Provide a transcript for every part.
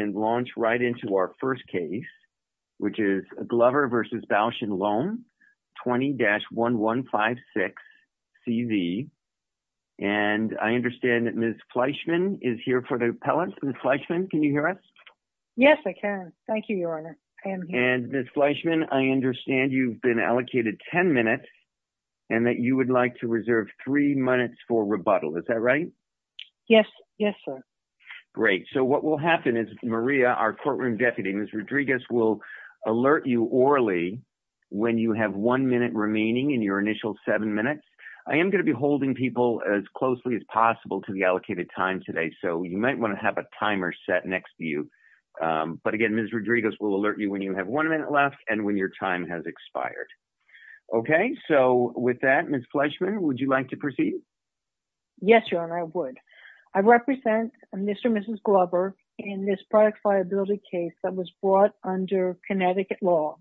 and launch right into our first case, which is a Glover versus Bausch and Lomb, 20-1156-CV. And I understand that Ms. Fleischman is here for the appellate. Ms. Fleischman, can you hear us? Yes, I can. Thank you, Your Honor. And Ms. Fleischman, I understand you've been allocated 10 minutes and that you would like to reserve three minutes for rebuttal, is that right? Yes, yes, sir. Great, so what will happen is Ms. Maria, our courtroom deputy, Ms. Rodriguez will alert you orally when you have one minute remaining in your initial seven minutes. I am gonna be holding people as closely as possible to the allocated time today, so you might wanna have a timer set next to you. But again, Ms. Rodriguez will alert you when you have one minute left and when your time has expired. Okay, so with that, Ms. Fleischman, would you like to proceed? Yes, Your Honor, I would. I represent Mr. and Mrs. Glover in this product viability case that was brought under Connecticut law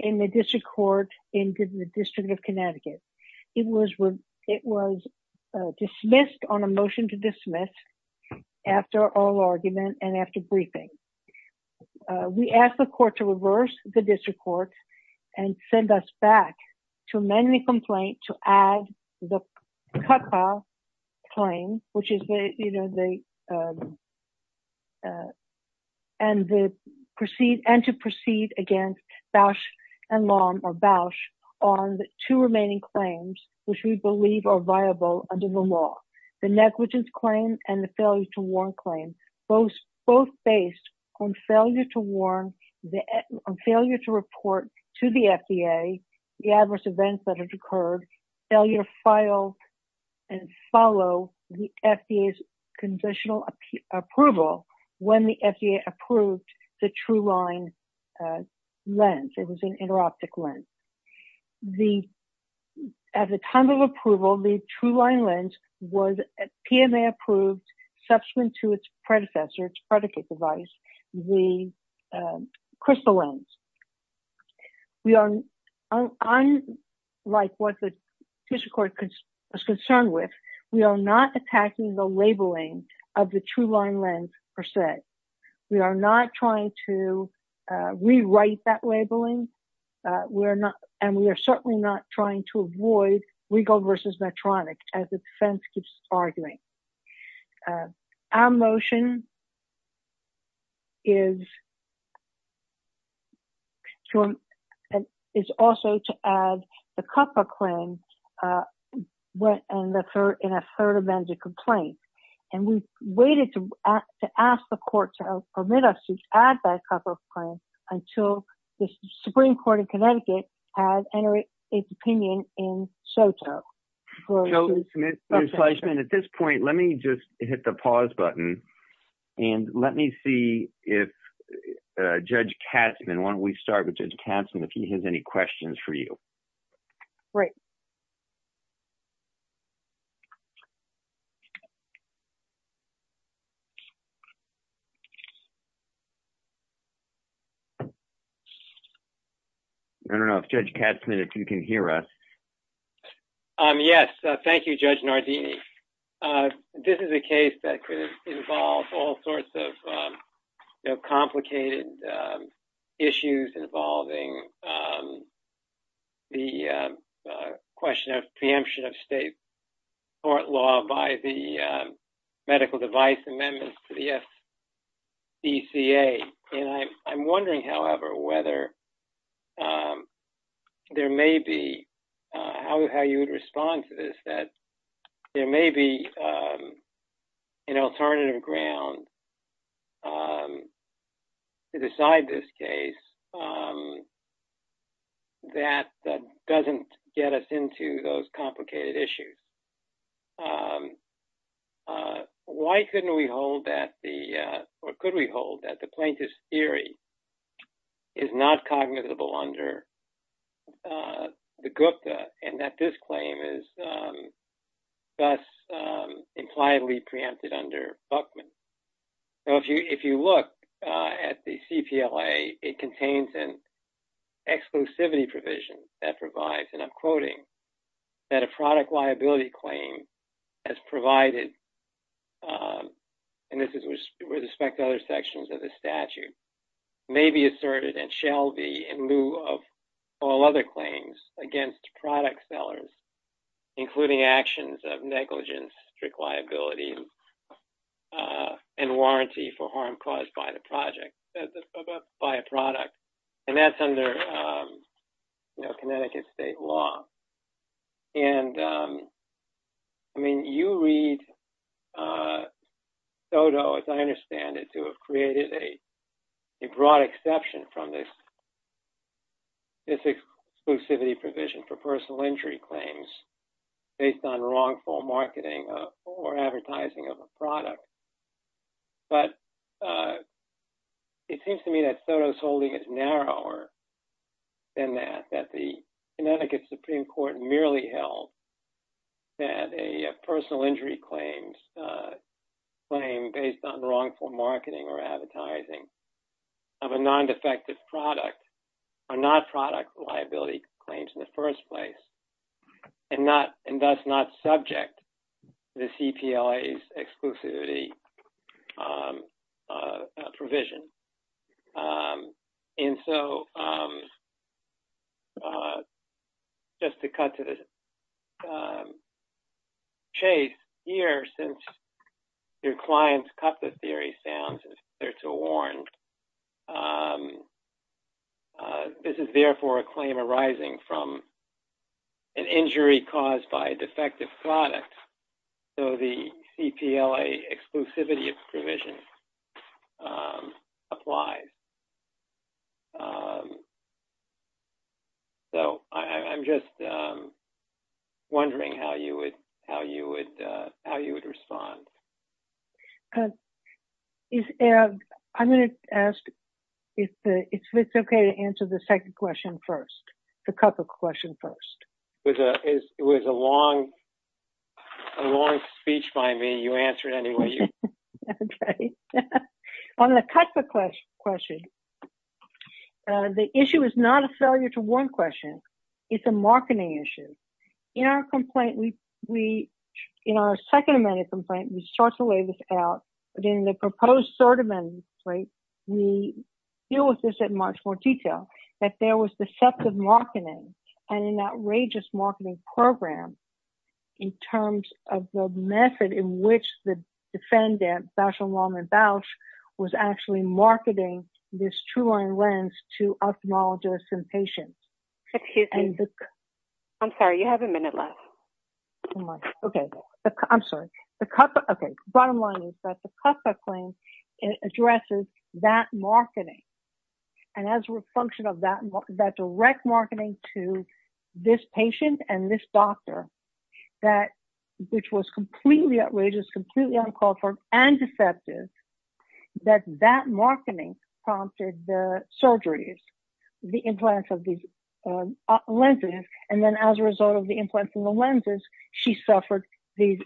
in the district court in the District of Connecticut. It was dismissed on a motion to dismiss after oral argument and after briefing. We asked the court to reverse the district court and send us back to amend the complaint to add the cut file claim, which is the, and to proceed against Bausch and Lomb or Bausch on the two remaining claims, which we believe are viable under the law, the negligence claim and the failure to warn claim, both based on failure to warn, the failure to report to the FDA the adverse events that have occurred, failure to file and follow the FDA's conditional approval when the FDA approved the TruLine lens. It was an inter-optic lens. At the time of approval, the TruLine lens was PMA approved subsequent to its predecessor, its predicate device, the Crystal lens. We are, unlike what the district court was concerned with, we are not attacking the labeling of the TruLine lens per se. We are not trying to rewrite that labeling. And we are certainly not trying to avoid Regal versus Medtronic as the defense keeps arguing. Our motion is, is also to add the CUPPA claim in a third amended complaint. And we've waited to ask the court to permit us to add that CUPPA claim until the Supreme Court of Connecticut has entered its opinion in SOTA. So, Ms. Fleischman, at this point, let me just hit the pause button and let me see if Judge Katzman, why don't we start with Judge Katzman if he has any questions for you. Right. I don't know if Judge Katzman, if you can hear us. Yes, thank you, Judge Nardini. This is a case that could involve all sorts of complicated issues involving the question of preemption of state court law by the medical device amendments to the FDCA. And I'm wondering, however, whether there may be, how you would respond to this, that there may be an alternative ground to decide this case that doesn't get us into those complicated issues. Why couldn't we hold that the, or could we hold that the plaintiff's theory is not cognizable under the CUPPA and that this claim is thus impliedly preempted under Buckman? So, if you look at the CPLA, it contains an exclusivity provision that provides, and I'm quoting, that a product liability claim as provided, and this is with respect to other sections of the statute, may be asserted and shall be in lieu of all other claims against product sellers, including actions of negligence, strict liability, and warranty for harm caused by a product. And that's under Connecticut state law. And I mean, you read Soto, as I understand it, to have created a broad exception from this exclusivity provision for personal injury claims based on wrongful marketing or advertising of a product. But it seems to me that Soto's holding it narrower than that, that the Connecticut Supreme Court merely held that a personal injury claim based on wrongful marketing or advertising of a non-defective product are not product liability claims in the first place, and thus not subject to the CPLA's exclusivity provision. And so, just to cut to the chase here, since your client's cut the theory sounds there to warn, this is therefore a claim arising from an injury caused by a defective product, so the CPLA exclusivity provision applies. So, I'm just wondering how you would respond to that. How would you respond? I'm gonna ask if it's okay to answer the second question first, the cut the question first. It was a long speech by me, you answer it anyway. On the cut the question, the issue is not a failure to warn question, it's a marketing issue. In our complaint, in our second amendment complaint, we start to lay this out, but in the proposed third amendment complaint, we deal with this in much more detail, that there was deceptive marketing and an outrageous marketing program in terms of the method in which the defendant, Bashulam and Bausch, was actually marketing this TrueLine lens to ophthalmologists and patients. Excuse me, I'm sorry, you have a minute left. Okay, I'm sorry. The cut the, okay, bottom line is that the cut the claim addresses that marketing, and as a function of that direct marketing to this patient and this doctor, that which was completely outrageous, completely uncultured and deceptive, that that marketing prompted the surgeries, the implants of these lenses, and then as a result of the implants in the lenses, she suffered these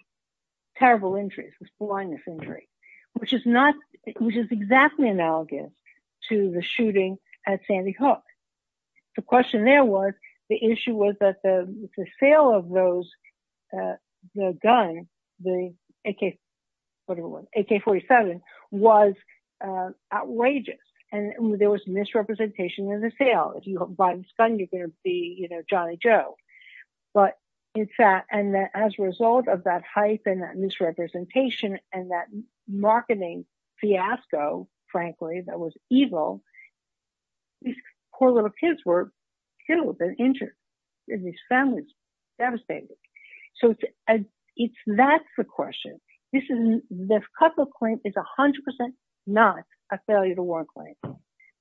terrible injuries, this blindness injury, which is not, which is exactly analogous to the shooting at Sandy Hook. The question there was, the issue was that the sale of those, the gun, the AK, whatever it was, AK-47, was outrageous, and there was misrepresentation in the sale. If you bought a gun, you're gonna be Johnny Joe, but it's that, and as a result of that hype and that misrepresentation and that marketing fiasco, frankly, that was evil, these poor little kids were killed and injured, and these families devastated. So it's, that's the question. This is, this couple of claims is 100% not a failure to warn claim.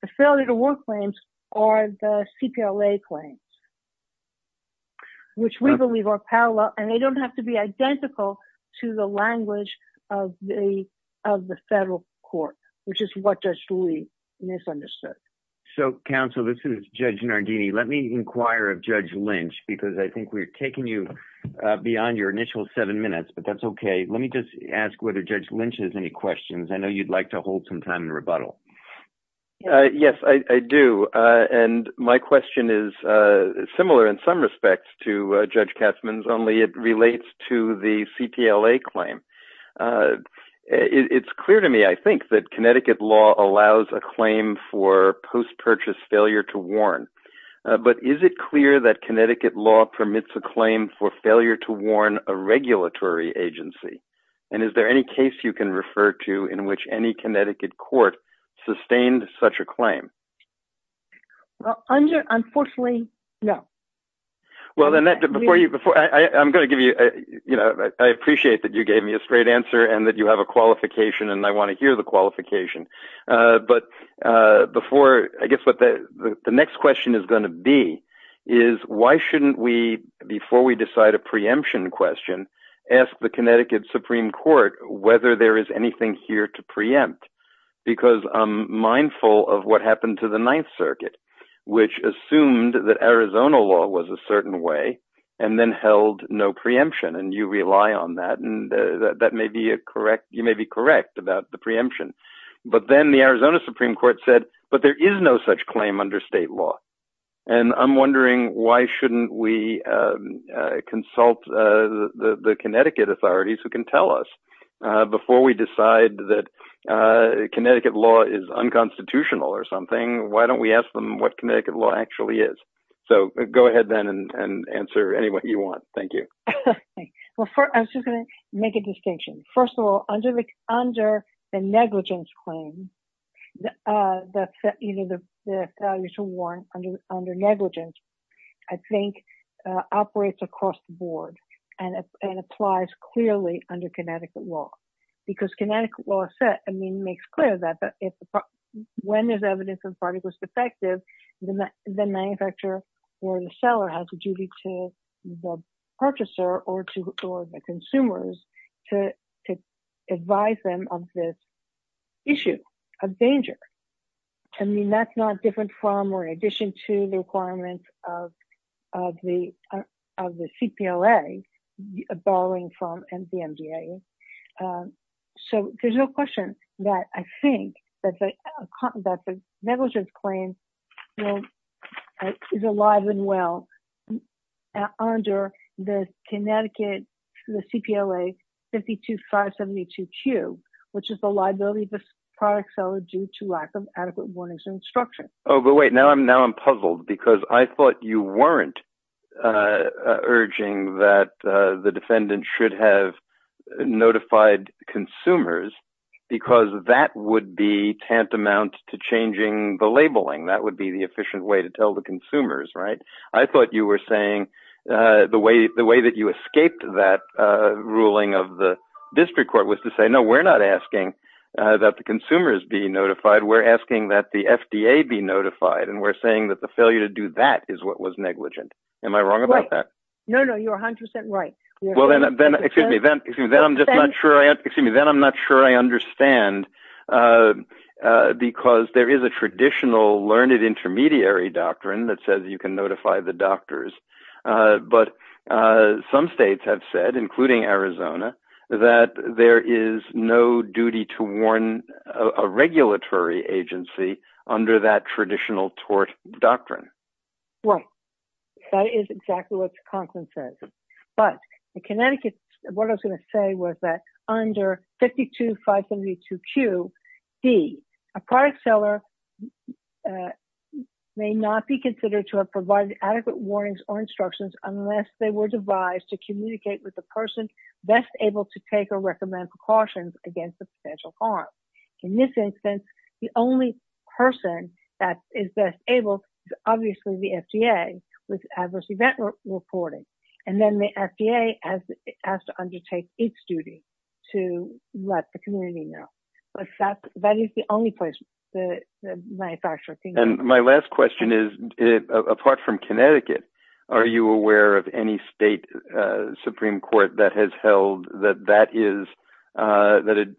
The failure to warn claims are the CPLA claims, which we believe are parallel, and they don't have to be identical to the language of the federal court, which is what Judge Rudy misunderstood. So counsel, this is Judge Nardini. Let me inquire of Judge Lynch, because I think we're taking you beyond your initial seven minutes, but that's okay. Let me just ask whether Judge Lynch has any questions. I know you'd like to hold some time in rebuttal. Yes, I do, and my question is similar in some respects to Judge Katzmann's, only it relates to the CPLA claim. It's clear to me, I think, that Connecticut law allows a claim for post-purchase failure to warn, but is it clear that Connecticut law permits a claim for failure to warn a regulatory agency? And is there any case you can refer to in which any Connecticut court sustained such a claim? Well, under, unfortunately, no. Well, Annette, before you, before, I'm gonna give you, I appreciate that you gave me a straight answer and that you have a qualification, and I wanna hear the qualification, but before, I guess what the next question is gonna be is why shouldn't we, before we decide a preemption question, ask the Connecticut Supreme Court whether there is anything here to preempt? Because I'm mindful of what happened to the Ninth Circuit, which assumed that Arizona law was a certain way and then held no preemption, and you rely on that, and that may be a correct, you may be correct about the preemption, but then the Arizona Supreme Court said, but there is no such claim under state law, and I'm wondering why shouldn't we consult the Connecticut authorities who can tell us before we decide that Connecticut law is unconstitutional or something, why don't we ask them what Connecticut law actually is? So go ahead, then, and answer any way you want. Thank you. Well, I'm just gonna make a distinction. First of all, under the negligence claim that's set, you know, the value to warrant under negligence, I think, operates across the board and applies clearly under Connecticut law, because Connecticut law makes clear that when there's evidence a product was defective, the manufacturer or the seller has a duty to the purchaser or the consumers to advise them of this issue of danger. I mean, that's not different from, or in addition to the requirements of the CPLA, borrowing from the MDA. So there's no question that I think that the negligence claim is alive and well under the Connecticut, the CPLA 52572Q, which is the liability of the product seller due to lack of adequate warnings and instruction. Oh, but wait, now I'm puzzled, because I thought you weren't urging that the defendant should have notified consumers because that would be tantamount to changing the labeling. That would be the efficient way to tell the consumers, right? I thought you were saying, the way that you escaped that ruling of the district court was to say, no, we're not asking that the consumers be notified. We're asking that the FDA be notified. And we're saying that the failure to do that is what was negligent. Am I wrong about that? No, no, you're 100% right. Well, then, excuse me, then I'm just not sure, excuse me, then I'm not sure I understand, because there is a traditional learned intermediary doctrine that says you can notify the doctors. But some states have said, including Arizona, that there is no duty to warn a regulatory agency under that traditional tort doctrine. Well, that is exactly what Conklin says. But in Connecticut, what I was gonna say was that under 52572QD, a product seller may not be considered to have provided adequate warnings or instructions unless they were devised to communicate with the person best able to take or recommend precautions against the potential harm. In this instance, the only person that is best able is obviously the FDA with adverse event reporting. And then the FDA has to undertake its duty to let the community know. That is the only place that the manufacturer can go. And my last question is, apart from Connecticut, are you aware of any state Supreme Court that has held that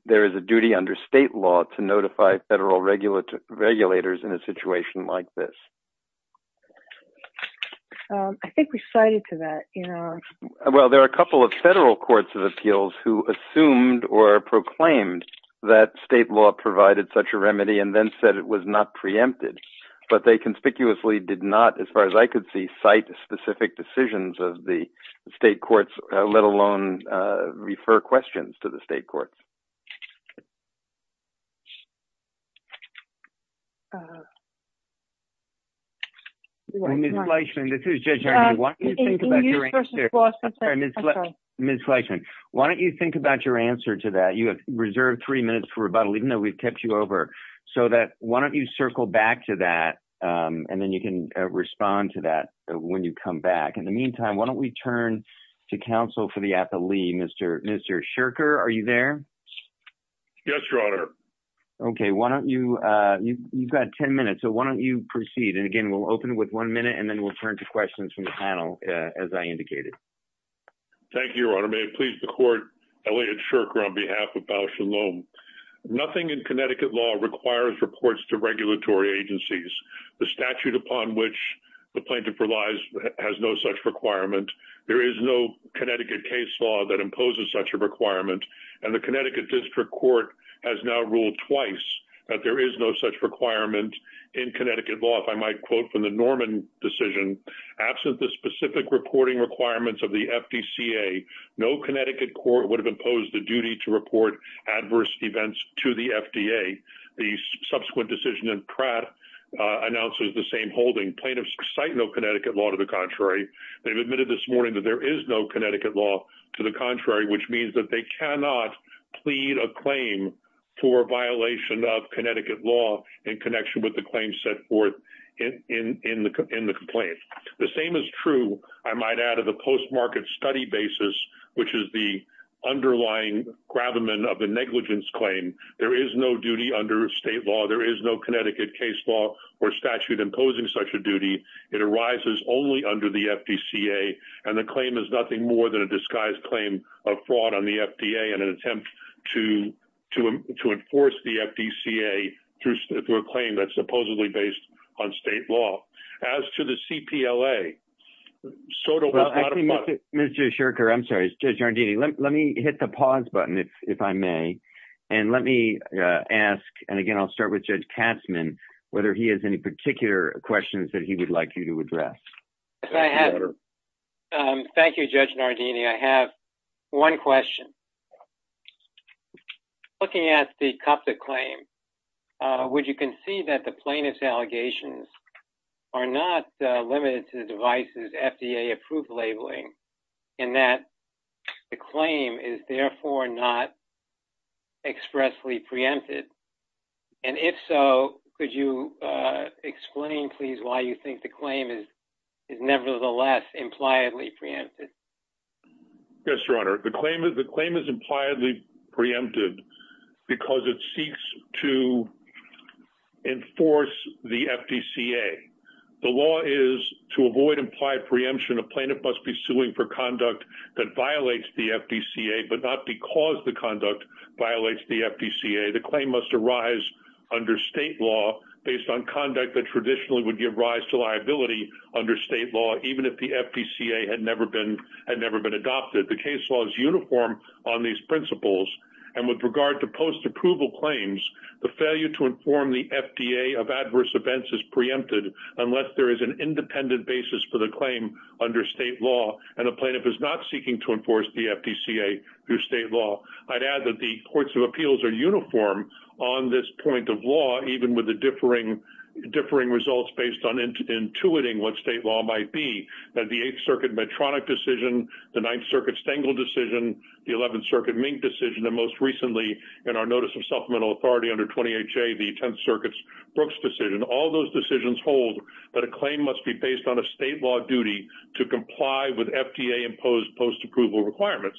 there is a duty under state law to notify federal regulators in a situation like this? I think we cited to that, you know. Well, there are a couple of federal courts of appeals who assumed or proclaimed that state law provided such a remedy and then said it was not preempted. But they conspicuously did not, as far as I could see, cite specific decisions of the state courts, let alone refer questions to the state courts. Well, Ms. Leishman, this is Judge Ernie. Why don't you think about your answer, Ms. Leishman. Why don't you think about your answer to that? You have reserved three minutes for rebuttal, even though we've kept you over. So why don't you circle back to that and then you can respond to that when you come back. In the meantime, why don't we turn to counsel for the appellee, Mr. Scherker. Are you there? Yes, Your Honor. Okay, why don't you, you've got 10 minutes. So why don't you proceed? And again, we'll open with one minute and then we'll turn to questions from the panel as I indicated. Thank you, Your Honor. May it please the court, Elliot Scherker on behalf of Bausch and Lohm. Nothing in Connecticut law requires reports to regulatory agencies. The statute upon which the plaintiff relies has no such requirement. There is no Connecticut case law that imposes such a requirement. And the Connecticut District Court has now ruled twice that there is no such requirement in Connecticut law. If I might quote from the Norman decision, absent the specific reporting requirements of the FDCA, no Connecticut court would have imposed the duty to report adverse events to the FDA. The subsequent decision in Pratt announces the same holding. Plaintiffs cite no Connecticut law to the contrary. They've admitted this morning that there is no Connecticut law to the contrary, which means that they cannot plead a claim for violation of Connecticut law in connection with the claims set forth in the complaint. The same is true, I might add, of the post-market study basis, which is the underlying gravamen of a negligence claim. There is no duty under state law. There is no Connecticut case law or statute imposing such a duty. It arises only under the FDCA. And the claim is nothing more than a disguised claim of fraud on the FDA in an attempt to enforce the FDCA through a claim that's supposedly based on state law. As to the CPLA, so to modify- Mr. Shurker, I'm sorry, it's Judge Nardini. Let me hit the pause button, if I may. And let me ask, and again, I'll start with Judge Katzmann, whether he has any particular questions that he would like you to address. Thank you, Judge Nardini. I have one question. would you concede that the plaintiff's allegations are not limited to the device's FDA-approved labeling and that the claim is therefore not expressly preempted? And if so, could you explain, please, why you think the claim is nevertheless impliedly preempted? Yes, Your Honor. The claim is impliedly preempted because it seeks to enforce the FDCA. The law is to avoid implied preemption, a plaintiff must be suing for conduct that violates the FDCA, but not because the conduct violates the FDCA. The claim must arise under state law based on conduct that traditionally would give rise to liability under state law, even if the FDCA had never been adopted. The case law is uniform on these principles. And with regard to post-approval claims, the failure to inform the FDA of adverse events is preempted unless there is an independent basis for the claim under state law and a plaintiff is not seeking to enforce the FDCA through state law. I'd add that the courts of appeals are uniform on this point of law, even with the differing results based on intuiting what state law might be, that the Eighth Circuit Medtronic decision, the Ninth Circuit Stengel decision, the Eleventh Circuit Mink decision, and most recently in our notice of supplemental authority under 20HA, the Tenth Circuit's Brooks decision, all those decisions hold that a claim must be based on a state law duty to comply with FDA imposed post-approval requirements.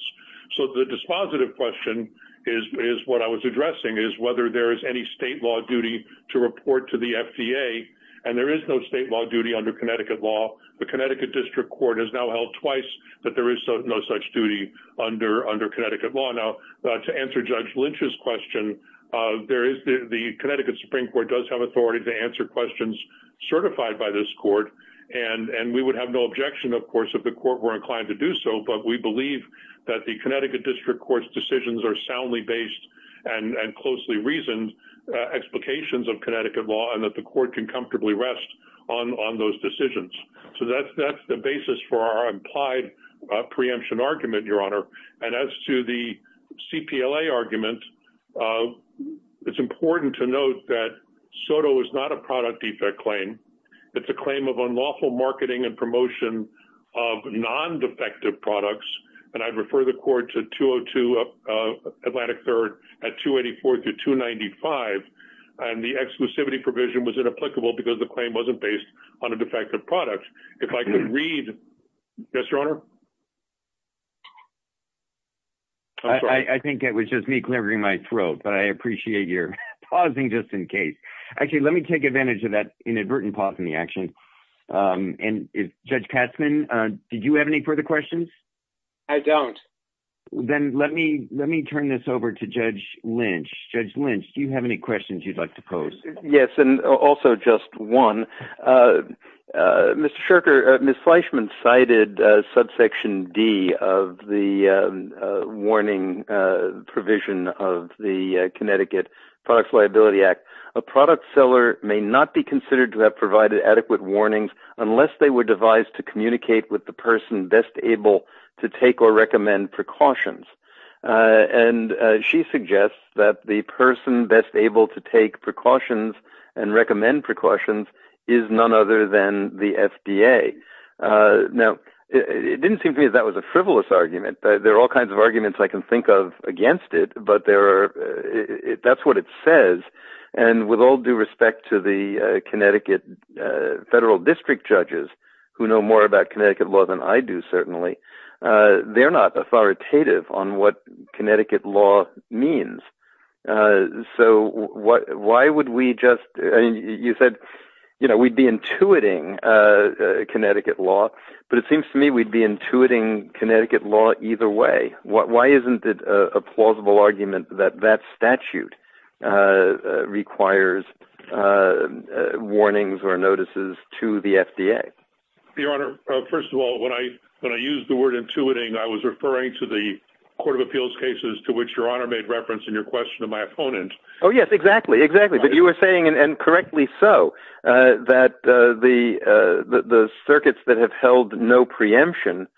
So the dispositive question is what I was addressing is whether there is any state law duty to report to the FDA, and there is no state law duty under Connecticut law. The Connecticut District Court has now held twice that there is no such duty under Connecticut law. Now, to answer Judge Lynch's question, the Connecticut Supreme Court does have authority to answer questions certified by this court, and we would have no objection, of course, if the court were inclined to do so, but we believe that the Connecticut District Court's decisions are soundly based and closely reasoned explications of Connecticut law and that the court can comfortably rest on those decisions. So that's the basis for our implied preemption argument, Your Honor. And as to the CPLA argument, it's important to note that SOTO is not a product defect claim. It's a claim of unlawful marketing and promotion of non-defective products, and I'd refer the court to 202 Atlantic 3rd at 284 to 295, and the exclusivity provision was inapplicable because the claim wasn't based on a defective product. If I could read, yes, Your Honor? I'm sorry. I think it was just me clevering my throat, but I appreciate your pausing just in case. Actually, let me take advantage of that inadvertent pause in the action, and Judge Katzman, did you have any further questions? I don't. Then let me turn this over to Judge Lynch. Judge Lynch, do you have any questions you'd like to pose? Yes, and also just one. Mr. Shurker, Ms. Fleischman cited subsection D of the warning provision of the Connecticut Products Liability Act. A product seller may not be considered to have provided adequate warnings unless they were devised to communicate with the person best able to take or recommend precautions, and she suggests that the person best able to take precautions and recommend precautions is none other than the FDA. Now, it didn't seem to me that was a frivolous argument. There are all kinds of arguments I can think of against it, but that's what it says, and with all due respect to the Connecticut federal district judges, who know more about Connecticut law than I do, certainly, they're not authoritative on what Connecticut law means. So why would we just, I mean, you said we'd be intuiting Connecticut law, but it seems to me we'd be intuiting Connecticut law either way. Why isn't it a plausible argument that that statute requires warnings or notices to the FDA? Your Honor, first of all, when I used the word intuiting, I was referring to the court of appeals cases to which Your Honor made reference in your question of my opponent. Oh, yes, exactly, exactly. But you were saying, and correctly so, that the circuits that have held no preemption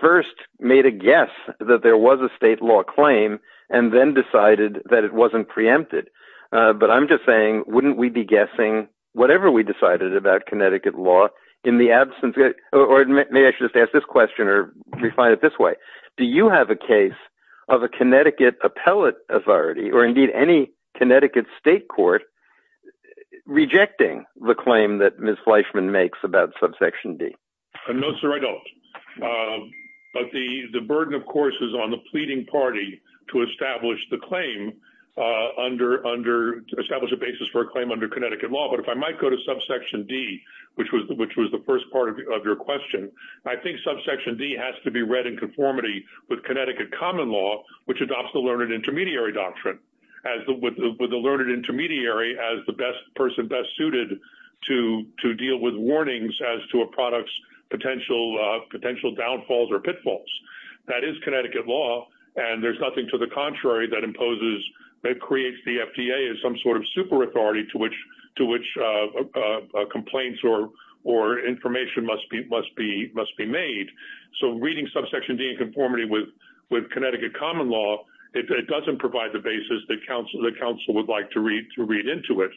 first made a guess that there was a state law claim and then decided that it wasn't preempted. But I'm just saying, wouldn't we be guessing whatever we decided about Connecticut law in the absence of, or maybe I should just ask this question or define it this way. Do you have a case of a Connecticut appellate authority or indeed any Connecticut state court rejecting the claim that Ms. Fleischman makes about subsection D? No, sir, I don't. But the burden, of course, is on the pleading party to establish the claim under, to establish a basis for a claim under Connecticut law. But if I might go to subsection D, which was the first part of your question, I think subsection D has to be read in conformity with Connecticut common law, which adopts the learned intermediary doctrine as with the learned intermediary as the best person best suited to deal with warnings as to a product's potential downfalls or pitfalls. That is Connecticut law. And there's nothing to the contrary that imposes, that creates the FDA as some sort of super authority to which complaints or information must be made. So reading subsection D in conformity with Connecticut common law, it doesn't provide the basis that counsel would like to read into it.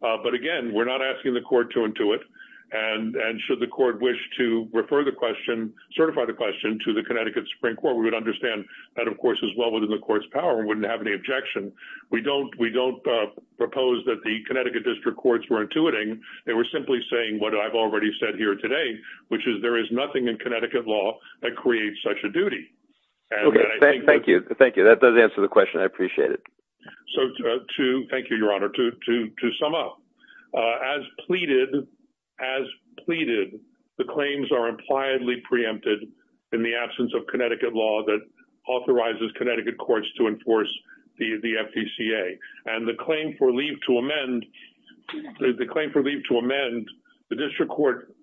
But again, we're not asking the court to intuit. And should the court wish to refer the question, certify the question to the Connecticut Supreme Court, we would understand that, of course, is well within the court's power and wouldn't have any objection. We don't propose that the Connecticut district courts were intuiting. They were simply saying what I've already said here today, which is there is nothing in Connecticut law that creates such a duty. And I think- Thank you, thank you. That does answer the question. I appreciate it. So to, thank you, your honor, to sum up. As pleaded, as pleaded, the claims are impliedly preempted in the absence of Connecticut law that authorizes Connecticut courts to enforce the FDCA. And the claim for leave to amend, the claim for leave to amend, the district court,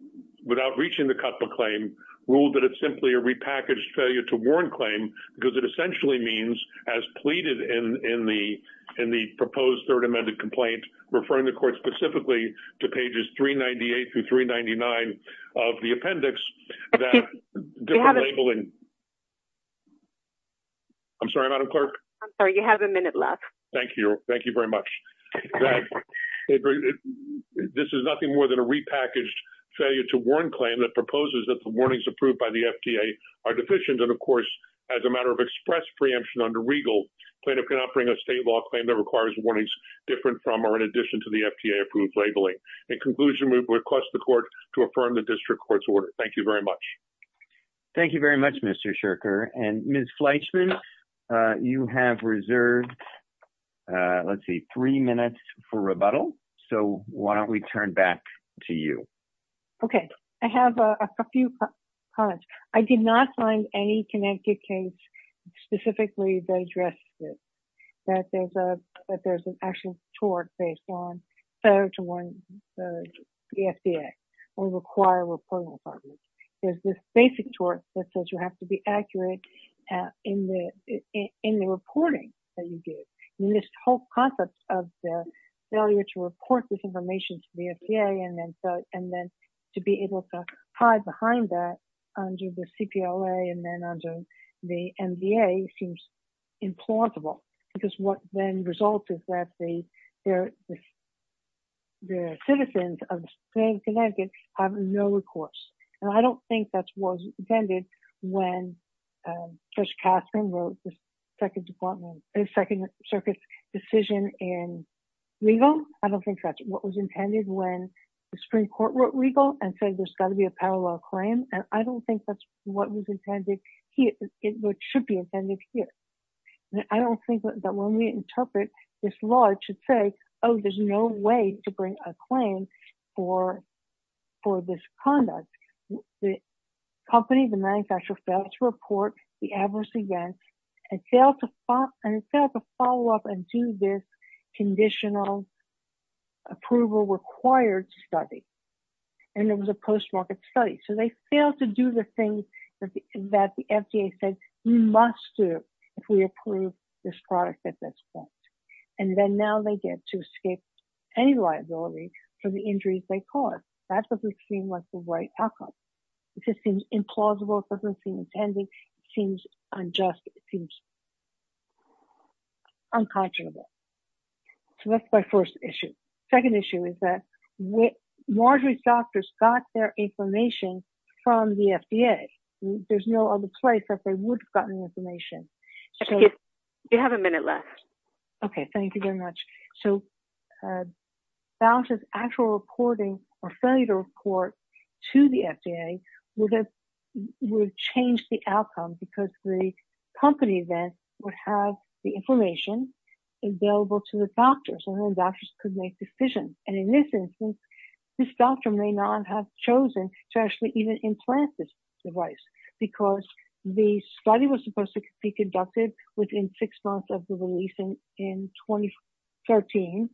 without reaching the cutbook claim, ruled that it's simply a repackaged failure to warn claim because it essentially means, as pleaded in the proposed third amended complaint, referring the court specifically to pages 398 through 399 of the appendix, that different labeling- I'm sorry, Madam Clerk. I'm sorry, you have a minute left. Thank you. Thank you very much. That this is nothing more than a repackaged failure to warn claim that proposes that the warnings approved by the FDA are deficient. And of course, as a matter of express preemption under regal, plaintiff cannot bring a state law claim that requires warnings different from, or in addition to the FDA approved labeling. In conclusion, we request the court to affirm the district court's order. Thank you very much. Thank you very much, Mr. Shurker. And Ms. Fleischman, you have reserved, let's see, three minutes for rebuttal. So why don't we turn back to you? Okay. I have a few comments. I did not find any connected case specifically that addressed this, that there's an actual tort based on failure to warn the FDA or require reporting of problems. There's this basic tort that says you have to be accurate in the reporting that you do. In this whole concept of failure to report this information to the FDA and then to be able to hide behind that under the CPOA and then under the MVA seems implausible. Because what then results is that the citizens of the state of Connecticut have no recourse. And I don't think that was intended when Judge Catherine wrote the Second Circuit's decision in legal. I don't think that's what was intended when the Supreme Court wrote legal and said there's gotta be a parallel claim. And I don't think that's what was intended here. It should be intended here. And I don't think that when we interpret this law it should say, oh, there's no way to bring a claim for this conduct. The company, the manufacturer failed to report the adverse events and failed to follow up and do this conditional approval required study. And it was a post-market study. So they failed to do the things that the FDA said you must do if we approve this product at this point. And then now they get to escape any liability for the injuries they cause. That doesn't seem like the right outcome. It just seems implausible. It doesn't seem intended. It seems unjust. It seems unconscionable. So that's my first issue. Second issue is that Marjorie's doctors got their information from the FDA. There's no other place that they would've gotten information. You have a minute left. Okay, thank you very much. So Boucher's actual reporting or failure to report to the FDA would have changed the outcome because the company then would have the information available to the doctors and then doctors could make decisions. And in this instance, this doctor may not have chosen to actually even implant this device because the study was supposed to be conducted within six months of the releasing in 2013.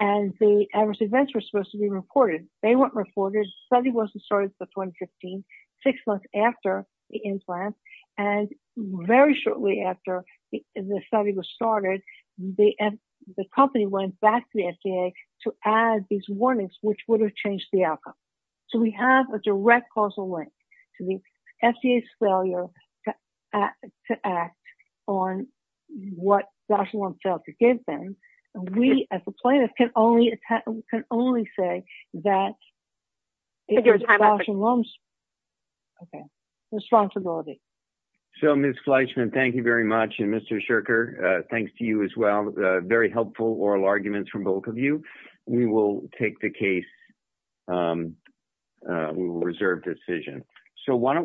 And the adverse events were supposed to be recorded. They weren't reported. Study wasn't started for 2015, six months after the implant. And very shortly after the study was started, the company went back to the FDA to add these warnings which would have changed the outcome. So we have a direct causal link to the FDA's failure to act on what Dr. Lomb failed to give them. And we as a plaintiff can only say that it was Dr. Lomb's, okay, responsibility. So Ms. Fleischman, thank you very much. And Mr. Sherker, thanks to you as well. Very helpful oral arguments from both of you. We will take the case, we will reserve decision. So why don't we?